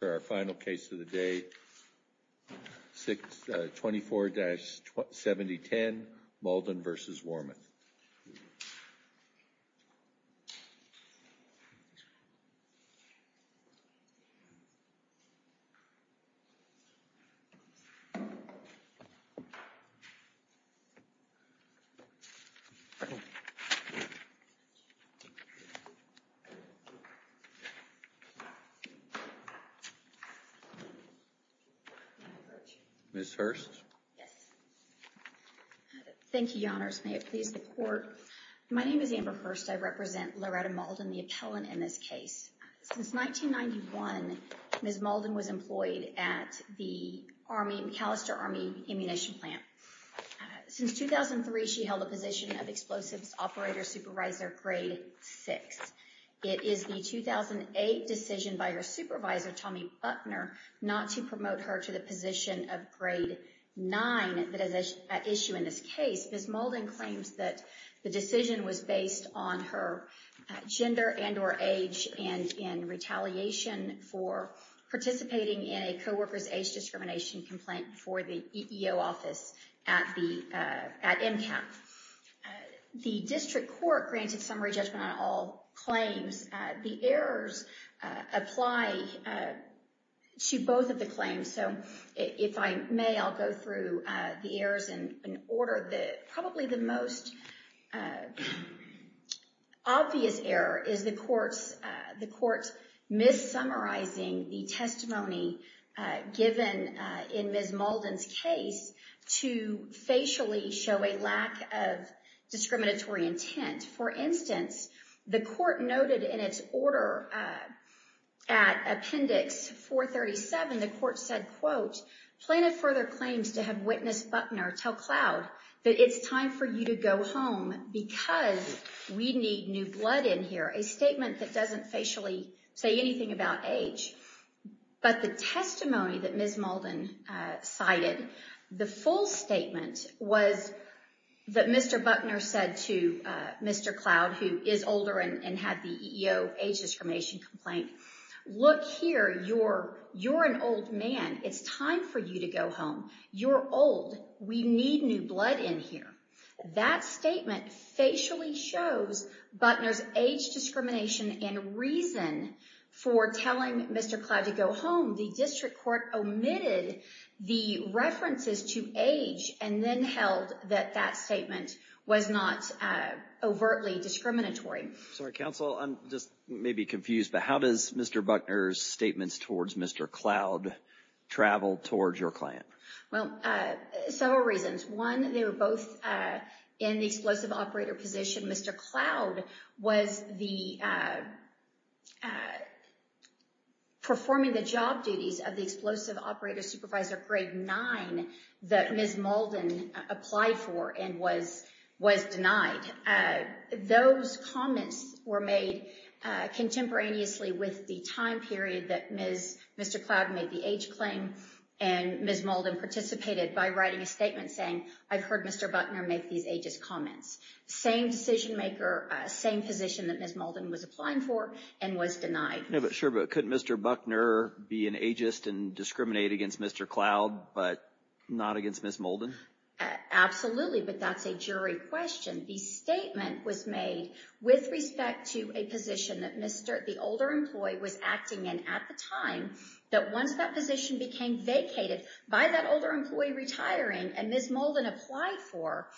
for our final case of the day, 24-7010, Maldin v. Wormuth. Ms. Hurst? Yes. Thank you, Your Honors. May it please the Court. My name is Amber Hurst. I represent Loretta Maldin, the appellant in this case. Since 1991, Ms. Maldin was employed at the Army, McAllister Army Ammunition Plant. Since 2003, she held a position of Explosives Operator Supervisor, Grade 6. It is the 2008 decision by her supervisor, Tommy Buckner, not to promote her to the position of Grade 9 that is at issue in this case. Ms. Maldin claims that the decision was based on her gender and or age and in retaliation for participating in a co-worker's age discrimination complaint for the EEO office at MCAT. The decision to the District Court granted summary judgment on all claims. The errors apply to both of the claims, so if I may, I'll go through the errors in order. Probably the most obvious error is the Court's mis-summarizing the testimony given in Ms. Maldin's case to facially show a lack of discriminatory intent. For instance, the Court noted in its order at Appendix 437, the Court said, quote, Planted further claims to have witness Buckner tell Cloud that it's time for you to go home because we need new blood in here, a statement that doesn't facially say anything about age. But the testimony that Ms. Maldin cited, the full statement was that Mr. Buckner said to Mr. Cloud, who is older and had the EEO age discrimination complaint, look here, you're an old man. It's time for you to go home. You're old. We need new blood in here. That statement facially shows Buckner's age discrimination and reason for telling Mr. Cloud to go home. The District Court omitted the references to age and then held that that statement was not overtly discriminatory. Sorry, Counsel, I'm just maybe confused, but how does Mr. Buckner's statements towards Mr. Cloud travel towards your client? Well, several reasons. One, they were both in the explosive operator position. Mr. Cloud was performing the job duties of the explosive operator supervisor grade nine that Ms. Maldin applied for and was denied. Those comments were made contemporaneously with the time period that Mr. Cloud made the age claim and Ms. Maldin participated by writing a statement saying, I've heard Mr. Buckner make these ageist comments. Same decision maker, same position that Ms. Maldin was applying for and was denied. Yeah, but sure, but couldn't Mr. Buckner be an ageist and discriminate against Mr. Cloud but not against Ms. Maldin? Absolutely, but that's a jury question. The statement was made with respect to a position that the older employee was acting in at the time that once that position became vacated by that older employee retiring and Ms. Maldin applied for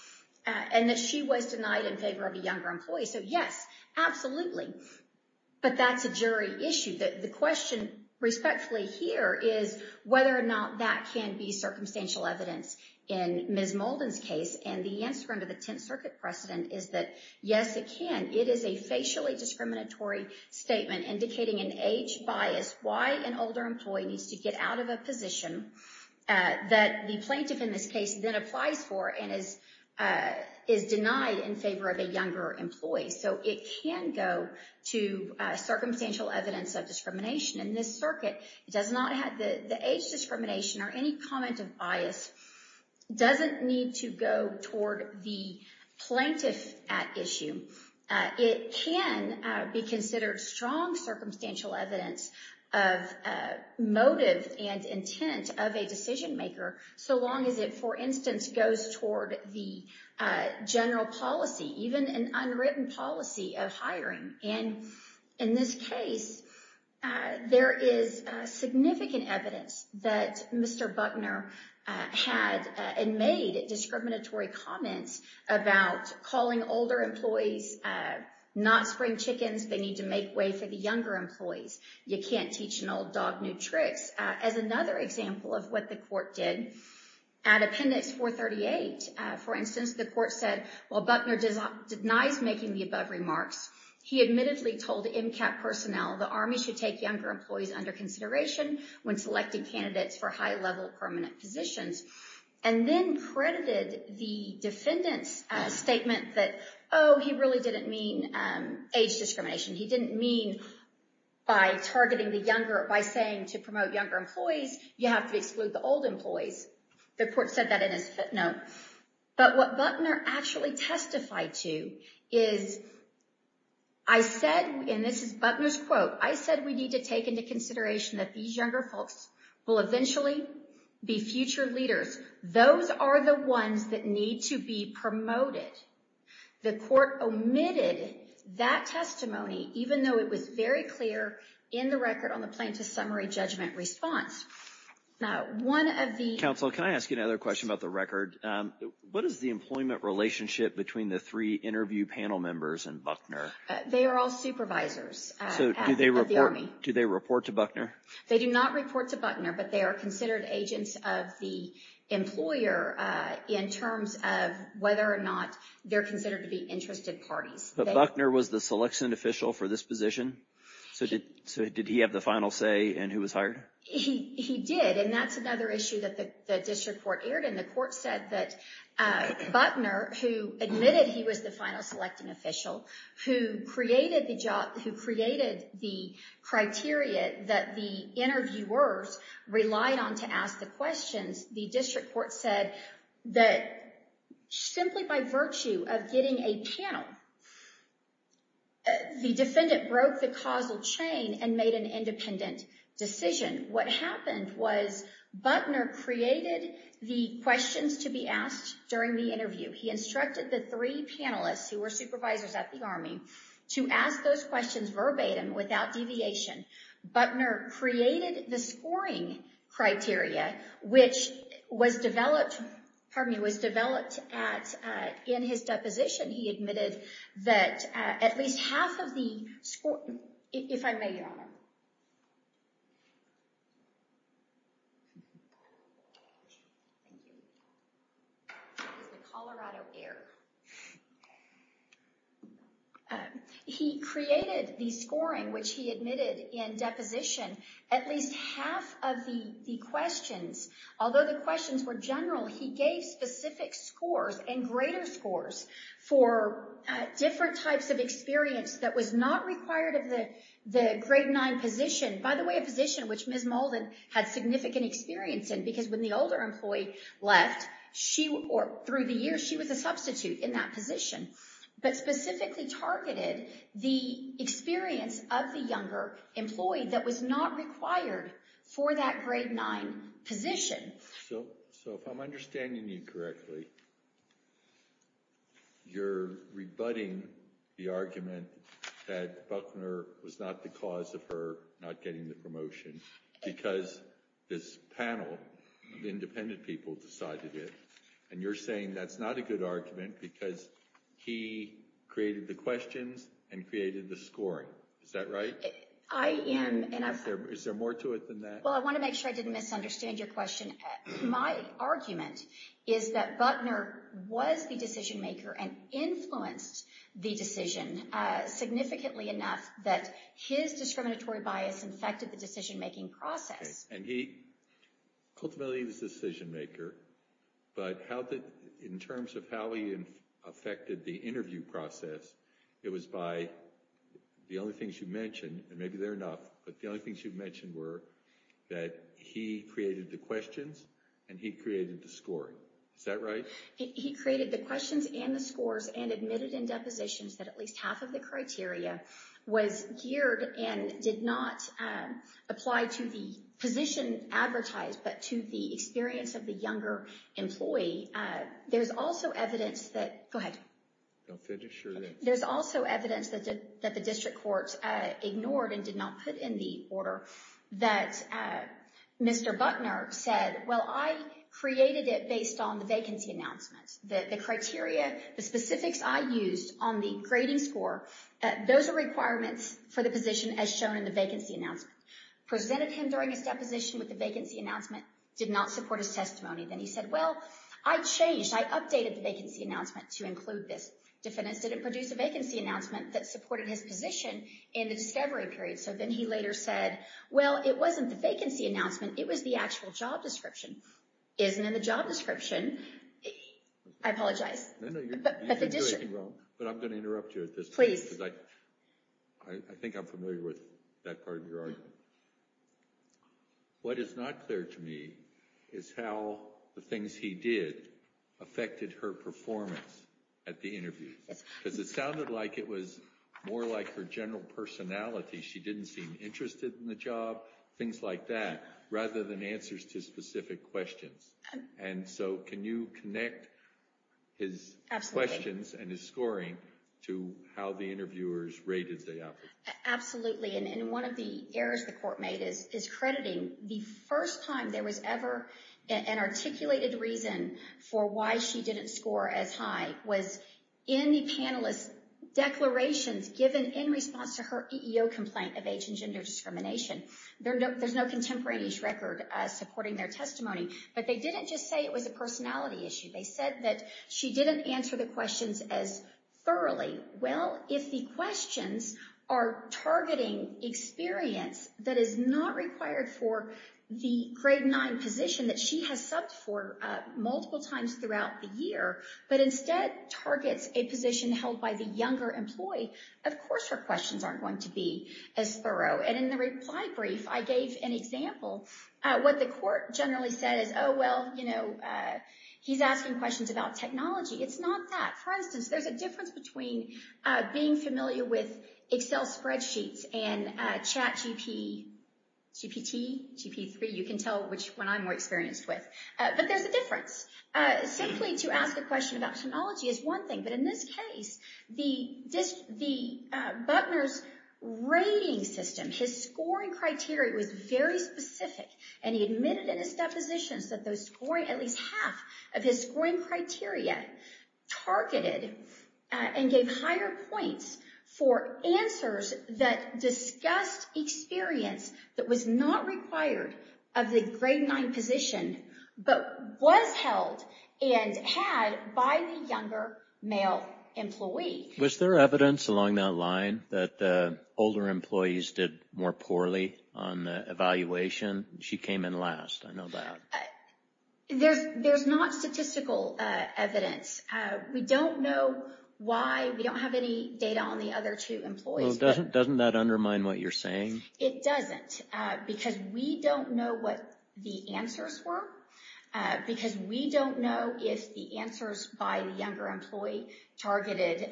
and that she was denied in favor of a younger employee. So yes, absolutely, but that's a jury issue. The question respectfully here is whether or not that can be circumstantial evidence in Ms. Maldin's case. And the answer under the Tenth Circuit precedent is that yes, it can. It is a facially discriminatory statement indicating an age bias, why an older employee needs to get out of a position that the plaintiff in this case then applies for and is denied in favor of a younger employee. So it can go to circumstantial evidence of discrimination. In this circuit, it does not have the age discrimination or any comment of bias doesn't need to go toward the plaintiff at issue. It can be considered strong circumstantial evidence of motive and intent of a decision maker so long as it, for instance, goes toward the general policy, even an unwritten policy of hiring. And in this case, there is significant evidence that Mr. Buckner had and made discriminatory comments about calling older employees not spring chickens. They need to make way for the younger employees. You can't teach an old dog new tricks. As another example of what the court did, at Appendix 438, for instance, the court said while Buckner denies making the above remarks, he admittedly told MCAT personnel the Army should take younger employees under consideration when selecting candidates for high-level permanent positions and then credited the defendant's statement that, oh, he really didn't mean age discrimination. He didn't mean by targeting the younger, by saying to promote younger employees, you have to exclude the old employees. The court said that in his fifth note. But what Buckner actually testified to is, I said, and this is Buckner's quote, I said we need to take into consideration that these younger folks will eventually be future leaders. Those are the ones that need to be promoted. The court omitted that testimony, even though it was very clear in the record on the plaintiff's summary judgment response. Now, one of the... Counsel, can I ask you another question about the record? What is the employment relationship between the three interview panel members and Buckner? They are all supervisors of the Army. Do they report to Buckner? They do not report to Buckner, but they are considered agents of the employer in terms of whether or not they're considered to be interested parties. But Buckner was the selection official for this position, so did he have the final say in who was hired? He did, and that's another issue that the district court aired, and the court said that Buckner, who admitted he was the final selecting official, who created the job, that the interviewers relied on to ask the questions, the district court said that simply by virtue of getting a panel, the defendant broke the causal chain and made an independent decision. What happened was Buckner created the questions to be asked during the interview. He instructed the three panelists, who were supervisors at the Army, to ask those questions verbatim without deviation. Buckner created the scoring criteria, which was developed at, in his deposition, he admitted that at least half of the score, if I may, Your Honor. Thank you. He was the Colorado heir. He created the scoring, which he admitted in deposition, at least half of the questions, although the questions were general, he gave specific scores and greater scores for different types of experience that was not required of the grade nine position, by the way, a position which Ms. Molden had significant experience in, because when the older employee left, she, or through the years, she was a substitute in that position, but specifically targeted the experience of the younger employee that was not required for that grade nine position. So if I'm understanding you correctly, you're rebutting the argument that Buckner was not the cause of her not getting the promotion because this panel of independent people decided it, and you're saying that's not a good argument because he created the questions and created the scoring. Is that right? Is there more to it than that? Well, I want to make sure I didn't misunderstand your question. My argument is that Buckner was the decision maker and influenced the decision significantly enough that his discriminatory bias affected the decision making process. And he ultimately was the decision maker, but in terms of how he affected the interview process, it was by the only things you mentioned, and maybe they're enough, but the only things you mentioned were that he created the questions and he created the scoring. Is that right? He created the questions and the scores and admitted in depositions that at least half of the criteria was geared and did not apply to the position advertised, but to the experience of the younger employee. There's also evidence that... Go ahead. Don't finish, or... There's also evidence that the district court ignored and did not put in the order that Mr. Buckner said, well, I created it based on the vacancy announcement. The criteria, the specifics I used on the grading score, those are requirements for the position as shown in the vacancy announcement. Presented him during his deposition with the vacancy announcement, did not support his testimony. Then he said, well, I changed, I updated the vacancy announcement to include this. Defendants didn't produce a vacancy announcement that supported his position in the discovery period. So then he later said, well, it wasn't the vacancy announcement, it was the actual job description. Isn't in the job description. I apologize. No, no, you didn't do anything wrong, but I'm going to interrupt you at this point. Please. Because I think I'm familiar with that part of your argument. What is not clear to me is how the things he did affected her performance at the interview. Because it sounded like it was more like her general personality. She didn't seem interested in the job, things like that, rather than answers to specific questions. And so can you connect his questions and his scoring to how the interviewers rated the applicant? Absolutely. And one of the errors the court made is crediting the first time there was ever an articulated reason for why she didn't score as high was in the panelist's declarations given in response to her EEO complaint of age and gender discrimination. There's no contemporaneous record supporting their testimony. But they didn't just say it was a personality issue. They said that she didn't answer the questions as thoroughly. Well, if the questions are targeting experience that is not required for the grade 9 position that she has subbed for multiple times throughout the year, but instead targets a position held by the younger employee, of course her questions aren't going to be as thorough. And in the reply brief, I gave an example what the court generally said is, oh, well, you know, he's asking questions about technology. It's not that. For instance, there's a difference between being familiar with Excel spreadsheets and ChatGP, GPT, GP3, you can tell which one I'm more experienced with. But there's a difference. Simply to ask a question about technology is one thing. But in this case, Buckner's rating system, his scoring criteria was very specific. And he admitted in his depositions that those scoring, at least half of his scoring criteria targeted and gave higher points for answers that discussed experience that was not required of the grade 9 position, but was held and had by the younger male employee. Was there evidence along that line that older employees did more poorly on the evaluation? She came in last. I know that. There's not statistical evidence. We don't know why. We don't have any data on the other two employees. Well, doesn't that undermine what you're saying? It doesn't. Because we don't know what the answers were. Because we don't know if the answers by the younger employee targeted,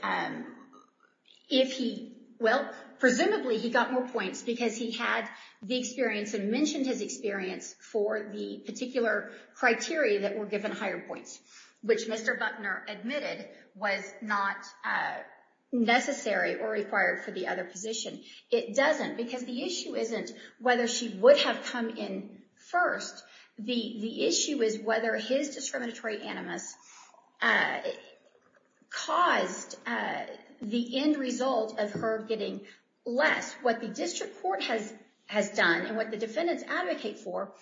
if he, well, presumably he got more points because he had the experience and mentioned his experience for the particular criteria that were given higher points, which Mr. Buckner admitted was not necessary or required for the other position. It doesn't. Because the issue isn't whether she would have come in first. The issue is whether his discriminatory animus caused the end result of her getting less. What the district court has done and what the defendants advocate for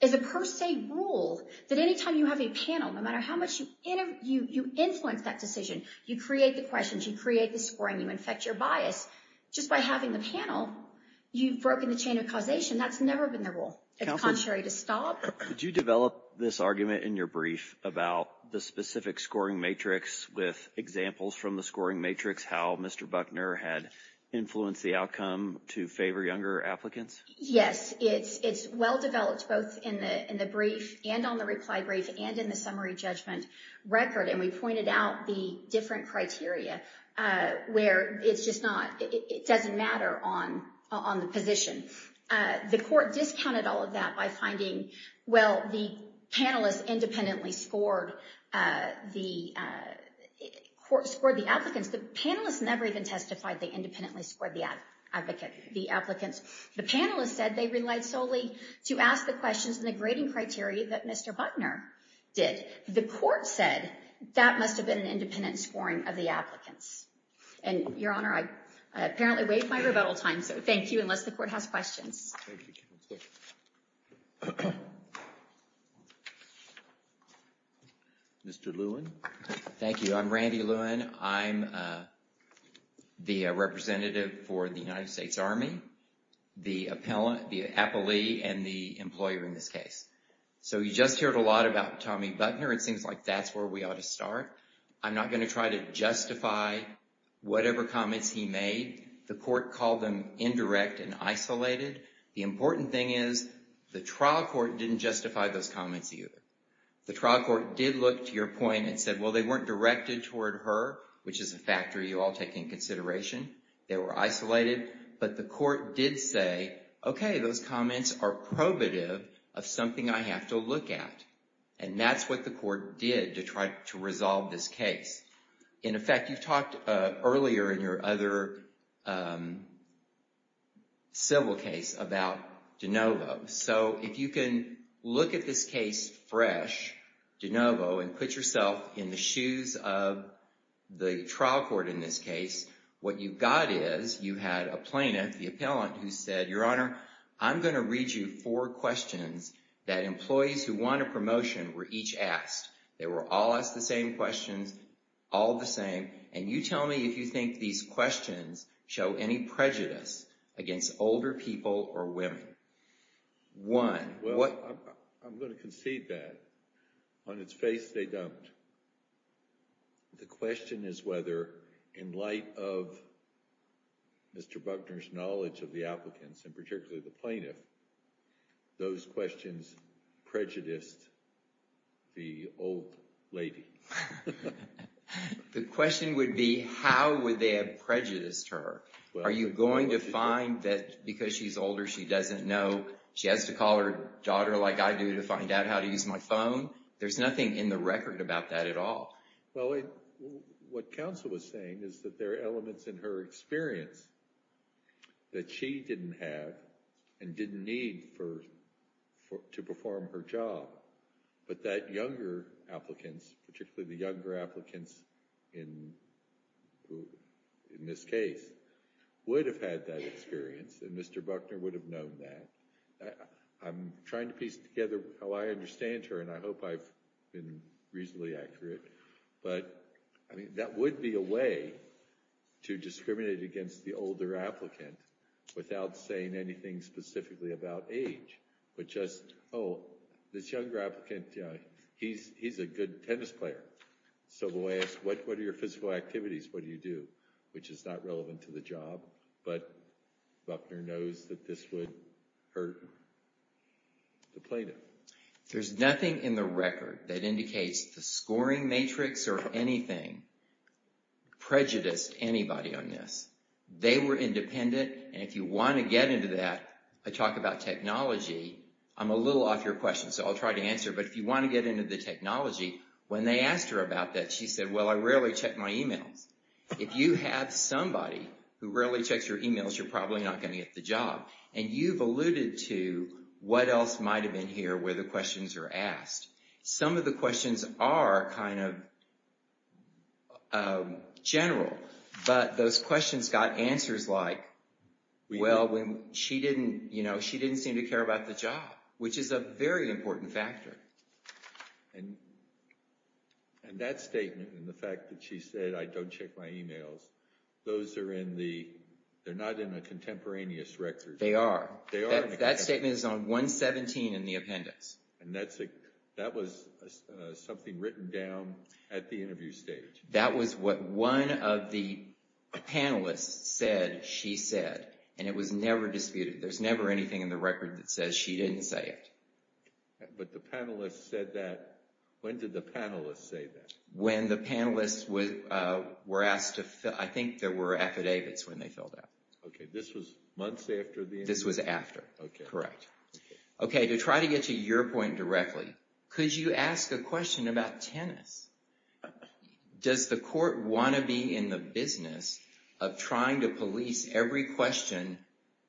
is a per se rule that anytime you have a panel, no matter how much you influence that decision, you create the questions, you create the scoring, you infect your bias. Just by having the panel, you've broken the chain of causation. That's never been the rule. It's contrary to Staub. Did you develop this argument in your brief about the specific scoring matrix with examples from the scoring matrix how Mr. Buckner had influenced the outcome to favor younger applicants? Yes, it's well developed both in the brief and on the reply brief and in the summary judgment record. And we pointed out the different criteria where it's just not, it doesn't matter on the position. The court discounted all of that by finding, well, the panelists independently scored the applicants. The panelists never even testified they independently scored the applicants. The panelists said they relied solely to ask the questions and the grading criteria that Mr. Buckner did. The court said that must have been an independent scoring of the applicants. And Your Honor, I apparently waived my rebuttal time, so thank you, unless the court has questions. Thank you, counsel. Mr. Lewin. Thank you. I'm Randy Lewin. I'm the representative for the United States Army, the appellee and the employer in this case. So you just heard a lot about Tommy Buckner. It seems like that's where we ought to start. I'm not going to try to justify whatever comments he made. The court called them indirect and isolated. The important thing is the trial court didn't justify those comments either. The trial court did look to your point and said, well, they weren't directed toward her, which is a factor you all take in consideration. They were isolated. But the court did say, okay, those comments are probative of something I have to look at. And that's what the court did to try to resolve this case. In effect, you've talked earlier in your other civil case about DeNovo. So if you can look at this case fresh, DeNovo, and put yourself in the shoes of the trial court in this case, what you've got is you had a plaintiff, the appellant, who said, your honor, I'm going to read you four questions that employees who want a promotion were each asked. They were all asked the same questions, all the same. And you tell me if you think these questions show any prejudice against older people or women. One. I'm going to concede that. On its face, they don't. The question is whether in light of Mr. Buckner's knowledge of the applicants and particularly the plaintiff, those questions prejudiced the old lady. The question would be, how would they have prejudiced her? Are you going to find that because she's older, she doesn't know, she has to call her daughter like I do to find out how to use my phone? There's nothing in the record about that at all. Well, what counsel was saying is that there are elements in her experience that she didn't have and didn't need to perform her job. But that younger applicants, particularly the younger applicants in this case, would have had that experience and Mr. Buckner would have known that. I'm trying to piece together how I understand her and I hope I've been reasonably accurate. But that would be a way to discriminate against the older applicant without saying anything specifically about age, but just, oh, this younger applicant, he's a good tennis player. So the way it's, what are your physical activities? What do you do? Which is not relevant to the job, but Buckner knows that this would hurt the plaintiff. There's nothing in the record that indicates the scoring matrix or anything prejudiced anybody on this. They were independent and if you want to get into that, I talk about technology. I'm a little off your question, so I'll try to answer. But if you want to get into the technology, when they asked her about that, she said, well, I rarely check my emails. If you have somebody who rarely checks your emails, you're probably not going to get the And you've alluded to what else might have been here where the questions are asked. Some of the questions are kind of general, but those questions got answers like, well, when she didn't, you know, she didn't seem to care about the job, which is a very important factor. And that statement and the fact that she said, I don't check my emails, those are in the, they're not in a contemporaneous record. They are. That statement is on 117 in the appendix. And that was something written down at the interview stage. That was what one of the panelists said she said, and it was never disputed. There's never anything in the record that says she didn't say it. But the panelists said that. When did the panelists say that? When the panelists were asked to fill, I think there were affidavits when they filled out. Okay. This was months after the interview. This was after, correct. Okay. To try to get to your point directly, could you ask a question about tennis? Does the court want to be in the business of trying to police every question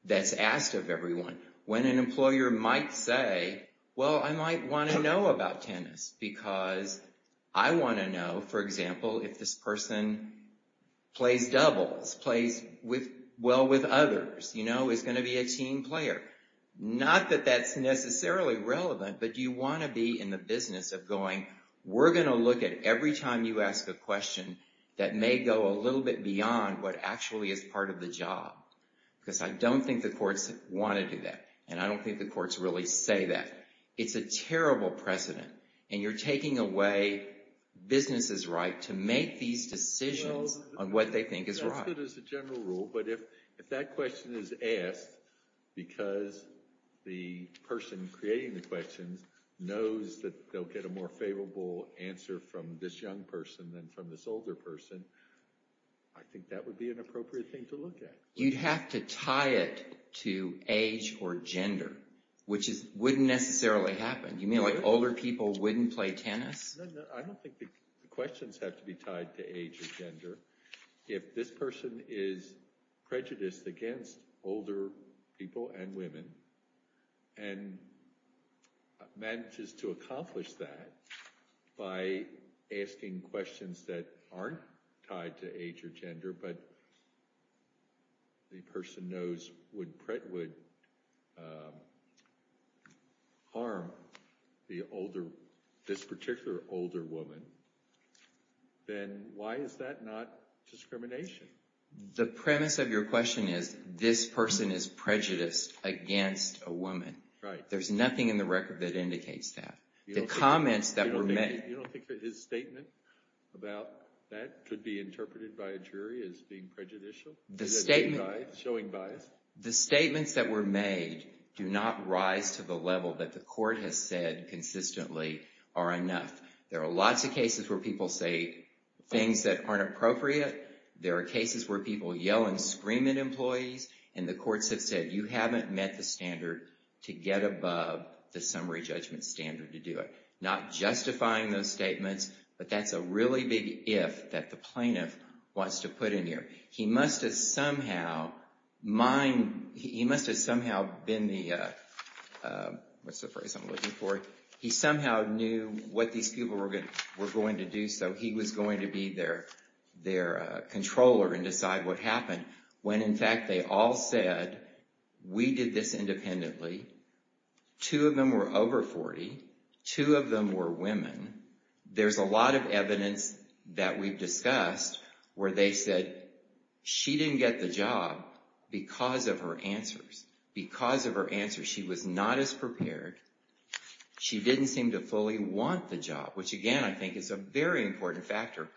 that's asked of everyone? When an employer might say, well, I might want to know about tennis because I want to know, for example, if this person plays doubles, plays with, well, with others, you know, is going to be a team player. Not that that's necessarily relevant, but do you want to be in the business of going, we're going to look at every time you ask a question that may go a little bit beyond what actually is part of the job. Because I don't think the courts want to do that. And I don't think the courts really say that. It's a terrible precedent. And you're taking away business's right to make these decisions on what they think is right. That's good as a general rule. But if that question is asked because the person creating the questions knows that they'll get a more favorable answer from this young person than from this older person, I think that would be an appropriate thing to look at. You'd have to tie it to age or gender, which wouldn't necessarily happen. You mean like older people wouldn't play tennis? No, no, I don't think the questions have to be tied to age or gender. If this person is prejudiced against older people and women and manages to accomplish that by asking questions that aren't tied to age or gender, but the person knows would harm this particular older woman, then why is that not discrimination? The premise of your question is this person is prejudiced against a woman. Right. There's nothing in the record that indicates that. The comments that were made... You don't think that his statement about that could be interpreted by a jury as being prejudicial? Showing bias? The statements that were made do not rise to the level that the court has said consistently are enough. There are lots of cases where people say things that aren't appropriate. There are cases where people yell and scream at employees and the courts have said, you haven't met the standard to get above the summary judgment standard to do it. Not justifying those statements, but that's a really big if that the plaintiff wants to put in here. He must have somehow been the... What's the phrase I'm looking for? He somehow knew what these people were going to do, so he was going to be their controller and decide what happened. When in fact, they all said, we did this independently. Two of them were over 40. Two of them were women. There's a lot of evidence that we've discussed where they said she didn't get the job because of her answers. Because of her answers, she was not as prepared. She didn't seem to fully want the job, which again, I think is a very important factor,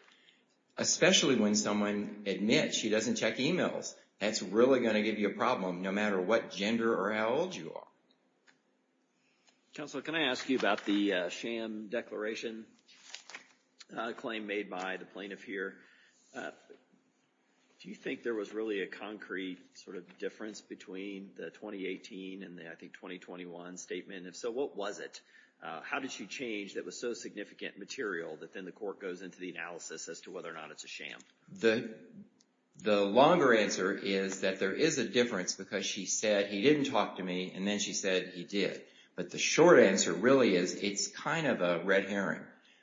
especially when someone admits she doesn't check emails. That's really going to give you a problem no matter what gender or how old you are. Counselor, can I ask you about the sham declaration claim made by the plaintiff here? Do you think there was really a concrete sort of difference between the 2018 and the, I think, 2021 statement? If so, what was it? How did she change that was so significant material that then the court goes into the analysis as to whether or not it's a sham? The longer answer is that there is a difference because she said he didn't talk to me and then she said he did. But the short answer really is it's kind of a red herring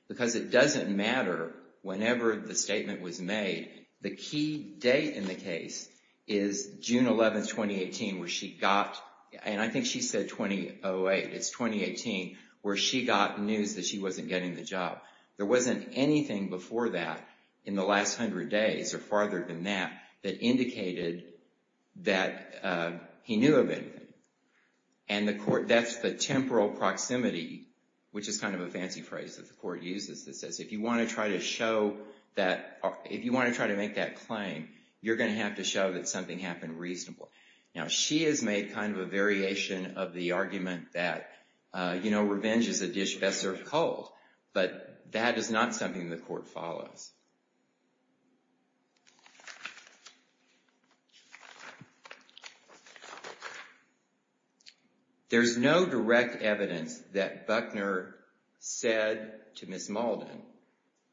because it doesn't matter whenever the statement was made. The key date in the case is June 11th, 2018, where she got, and I think she said 2008. It's 2018 where she got news that she wasn't getting the job. There wasn't anything before that in the last 100 days or farther than that that indicated that he knew of anything. And the court, that's the temporal proximity, which is kind of a fancy phrase that the court uses that says if you want to try to show that, if you want to try to make that claim, you're going to have to show that something happened reasonably. Now, she has made kind of a variation of the argument that, you know, revenge is a dish best served cold. But that is not something the court follows. There's no direct evidence that Buckner said to Ms. Malden,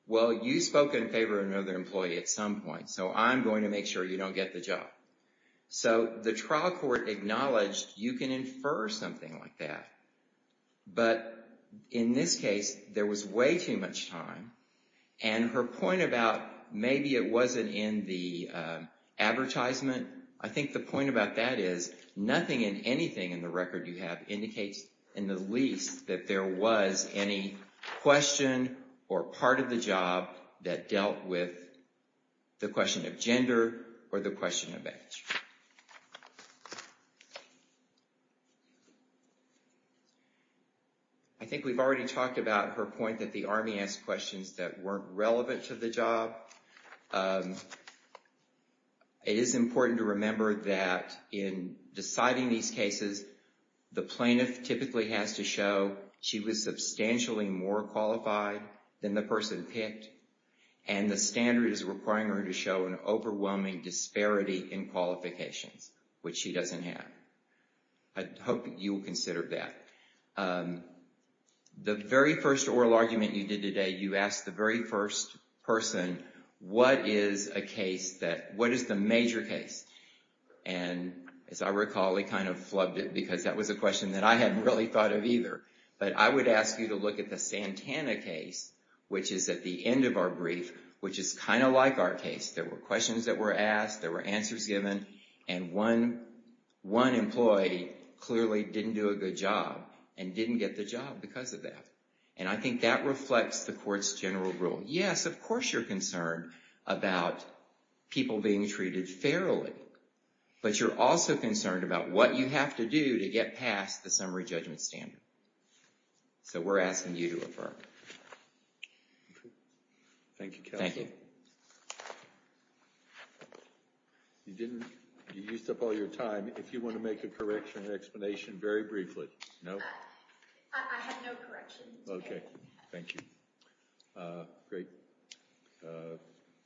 well, you spoke in favor of another employee at some point, so I'm going to make sure you don't get the job. So the trial court acknowledged you can infer something like that. But in this case, there was way too much time. And her point about maybe it wasn't in the advertisement, I think the point about that is nothing in anything in the record you have indicates in the least that there was any question or part of the job that dealt with the question of gender or the question of age. I think we've already talked about her point that the Army asked questions that weren't relevant to the job. It is important to remember that in deciding these cases, the plaintiff typically has to show she was substantially more qualified than the person picked. And the standard is requiring her to show an overwhelming disparity in qualifications, which she doesn't have. I hope that you will consider that. The very first oral argument you did today, you asked the very first person, what is a case that, what is the major case? And as I recall, he kind of flubbed it because that was a question that I hadn't really thought of either. But I would ask you to look at the Santana case, which is at the end of our brief, which is kind of like our case. There were questions that were asked, there were answers given, and one employee clearly didn't do a good job and didn't get the job because of that. And I think that reflects the court's general rule. Yes, of course you're concerned about people being treated fairly, but you're also concerned about what you have to do to get past the summary judgment standard. So we're asking you to refer. Thank you, counsel. Thank you. You didn't, you used up all your time. If you want to make a correction, an explanation, very briefly. No? I have no correction. Okay, thank you. Great.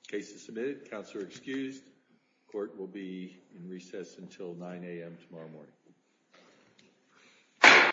Case is submitted. Counselor excused. Court will be in recess until 9 a.m. tomorrow morning.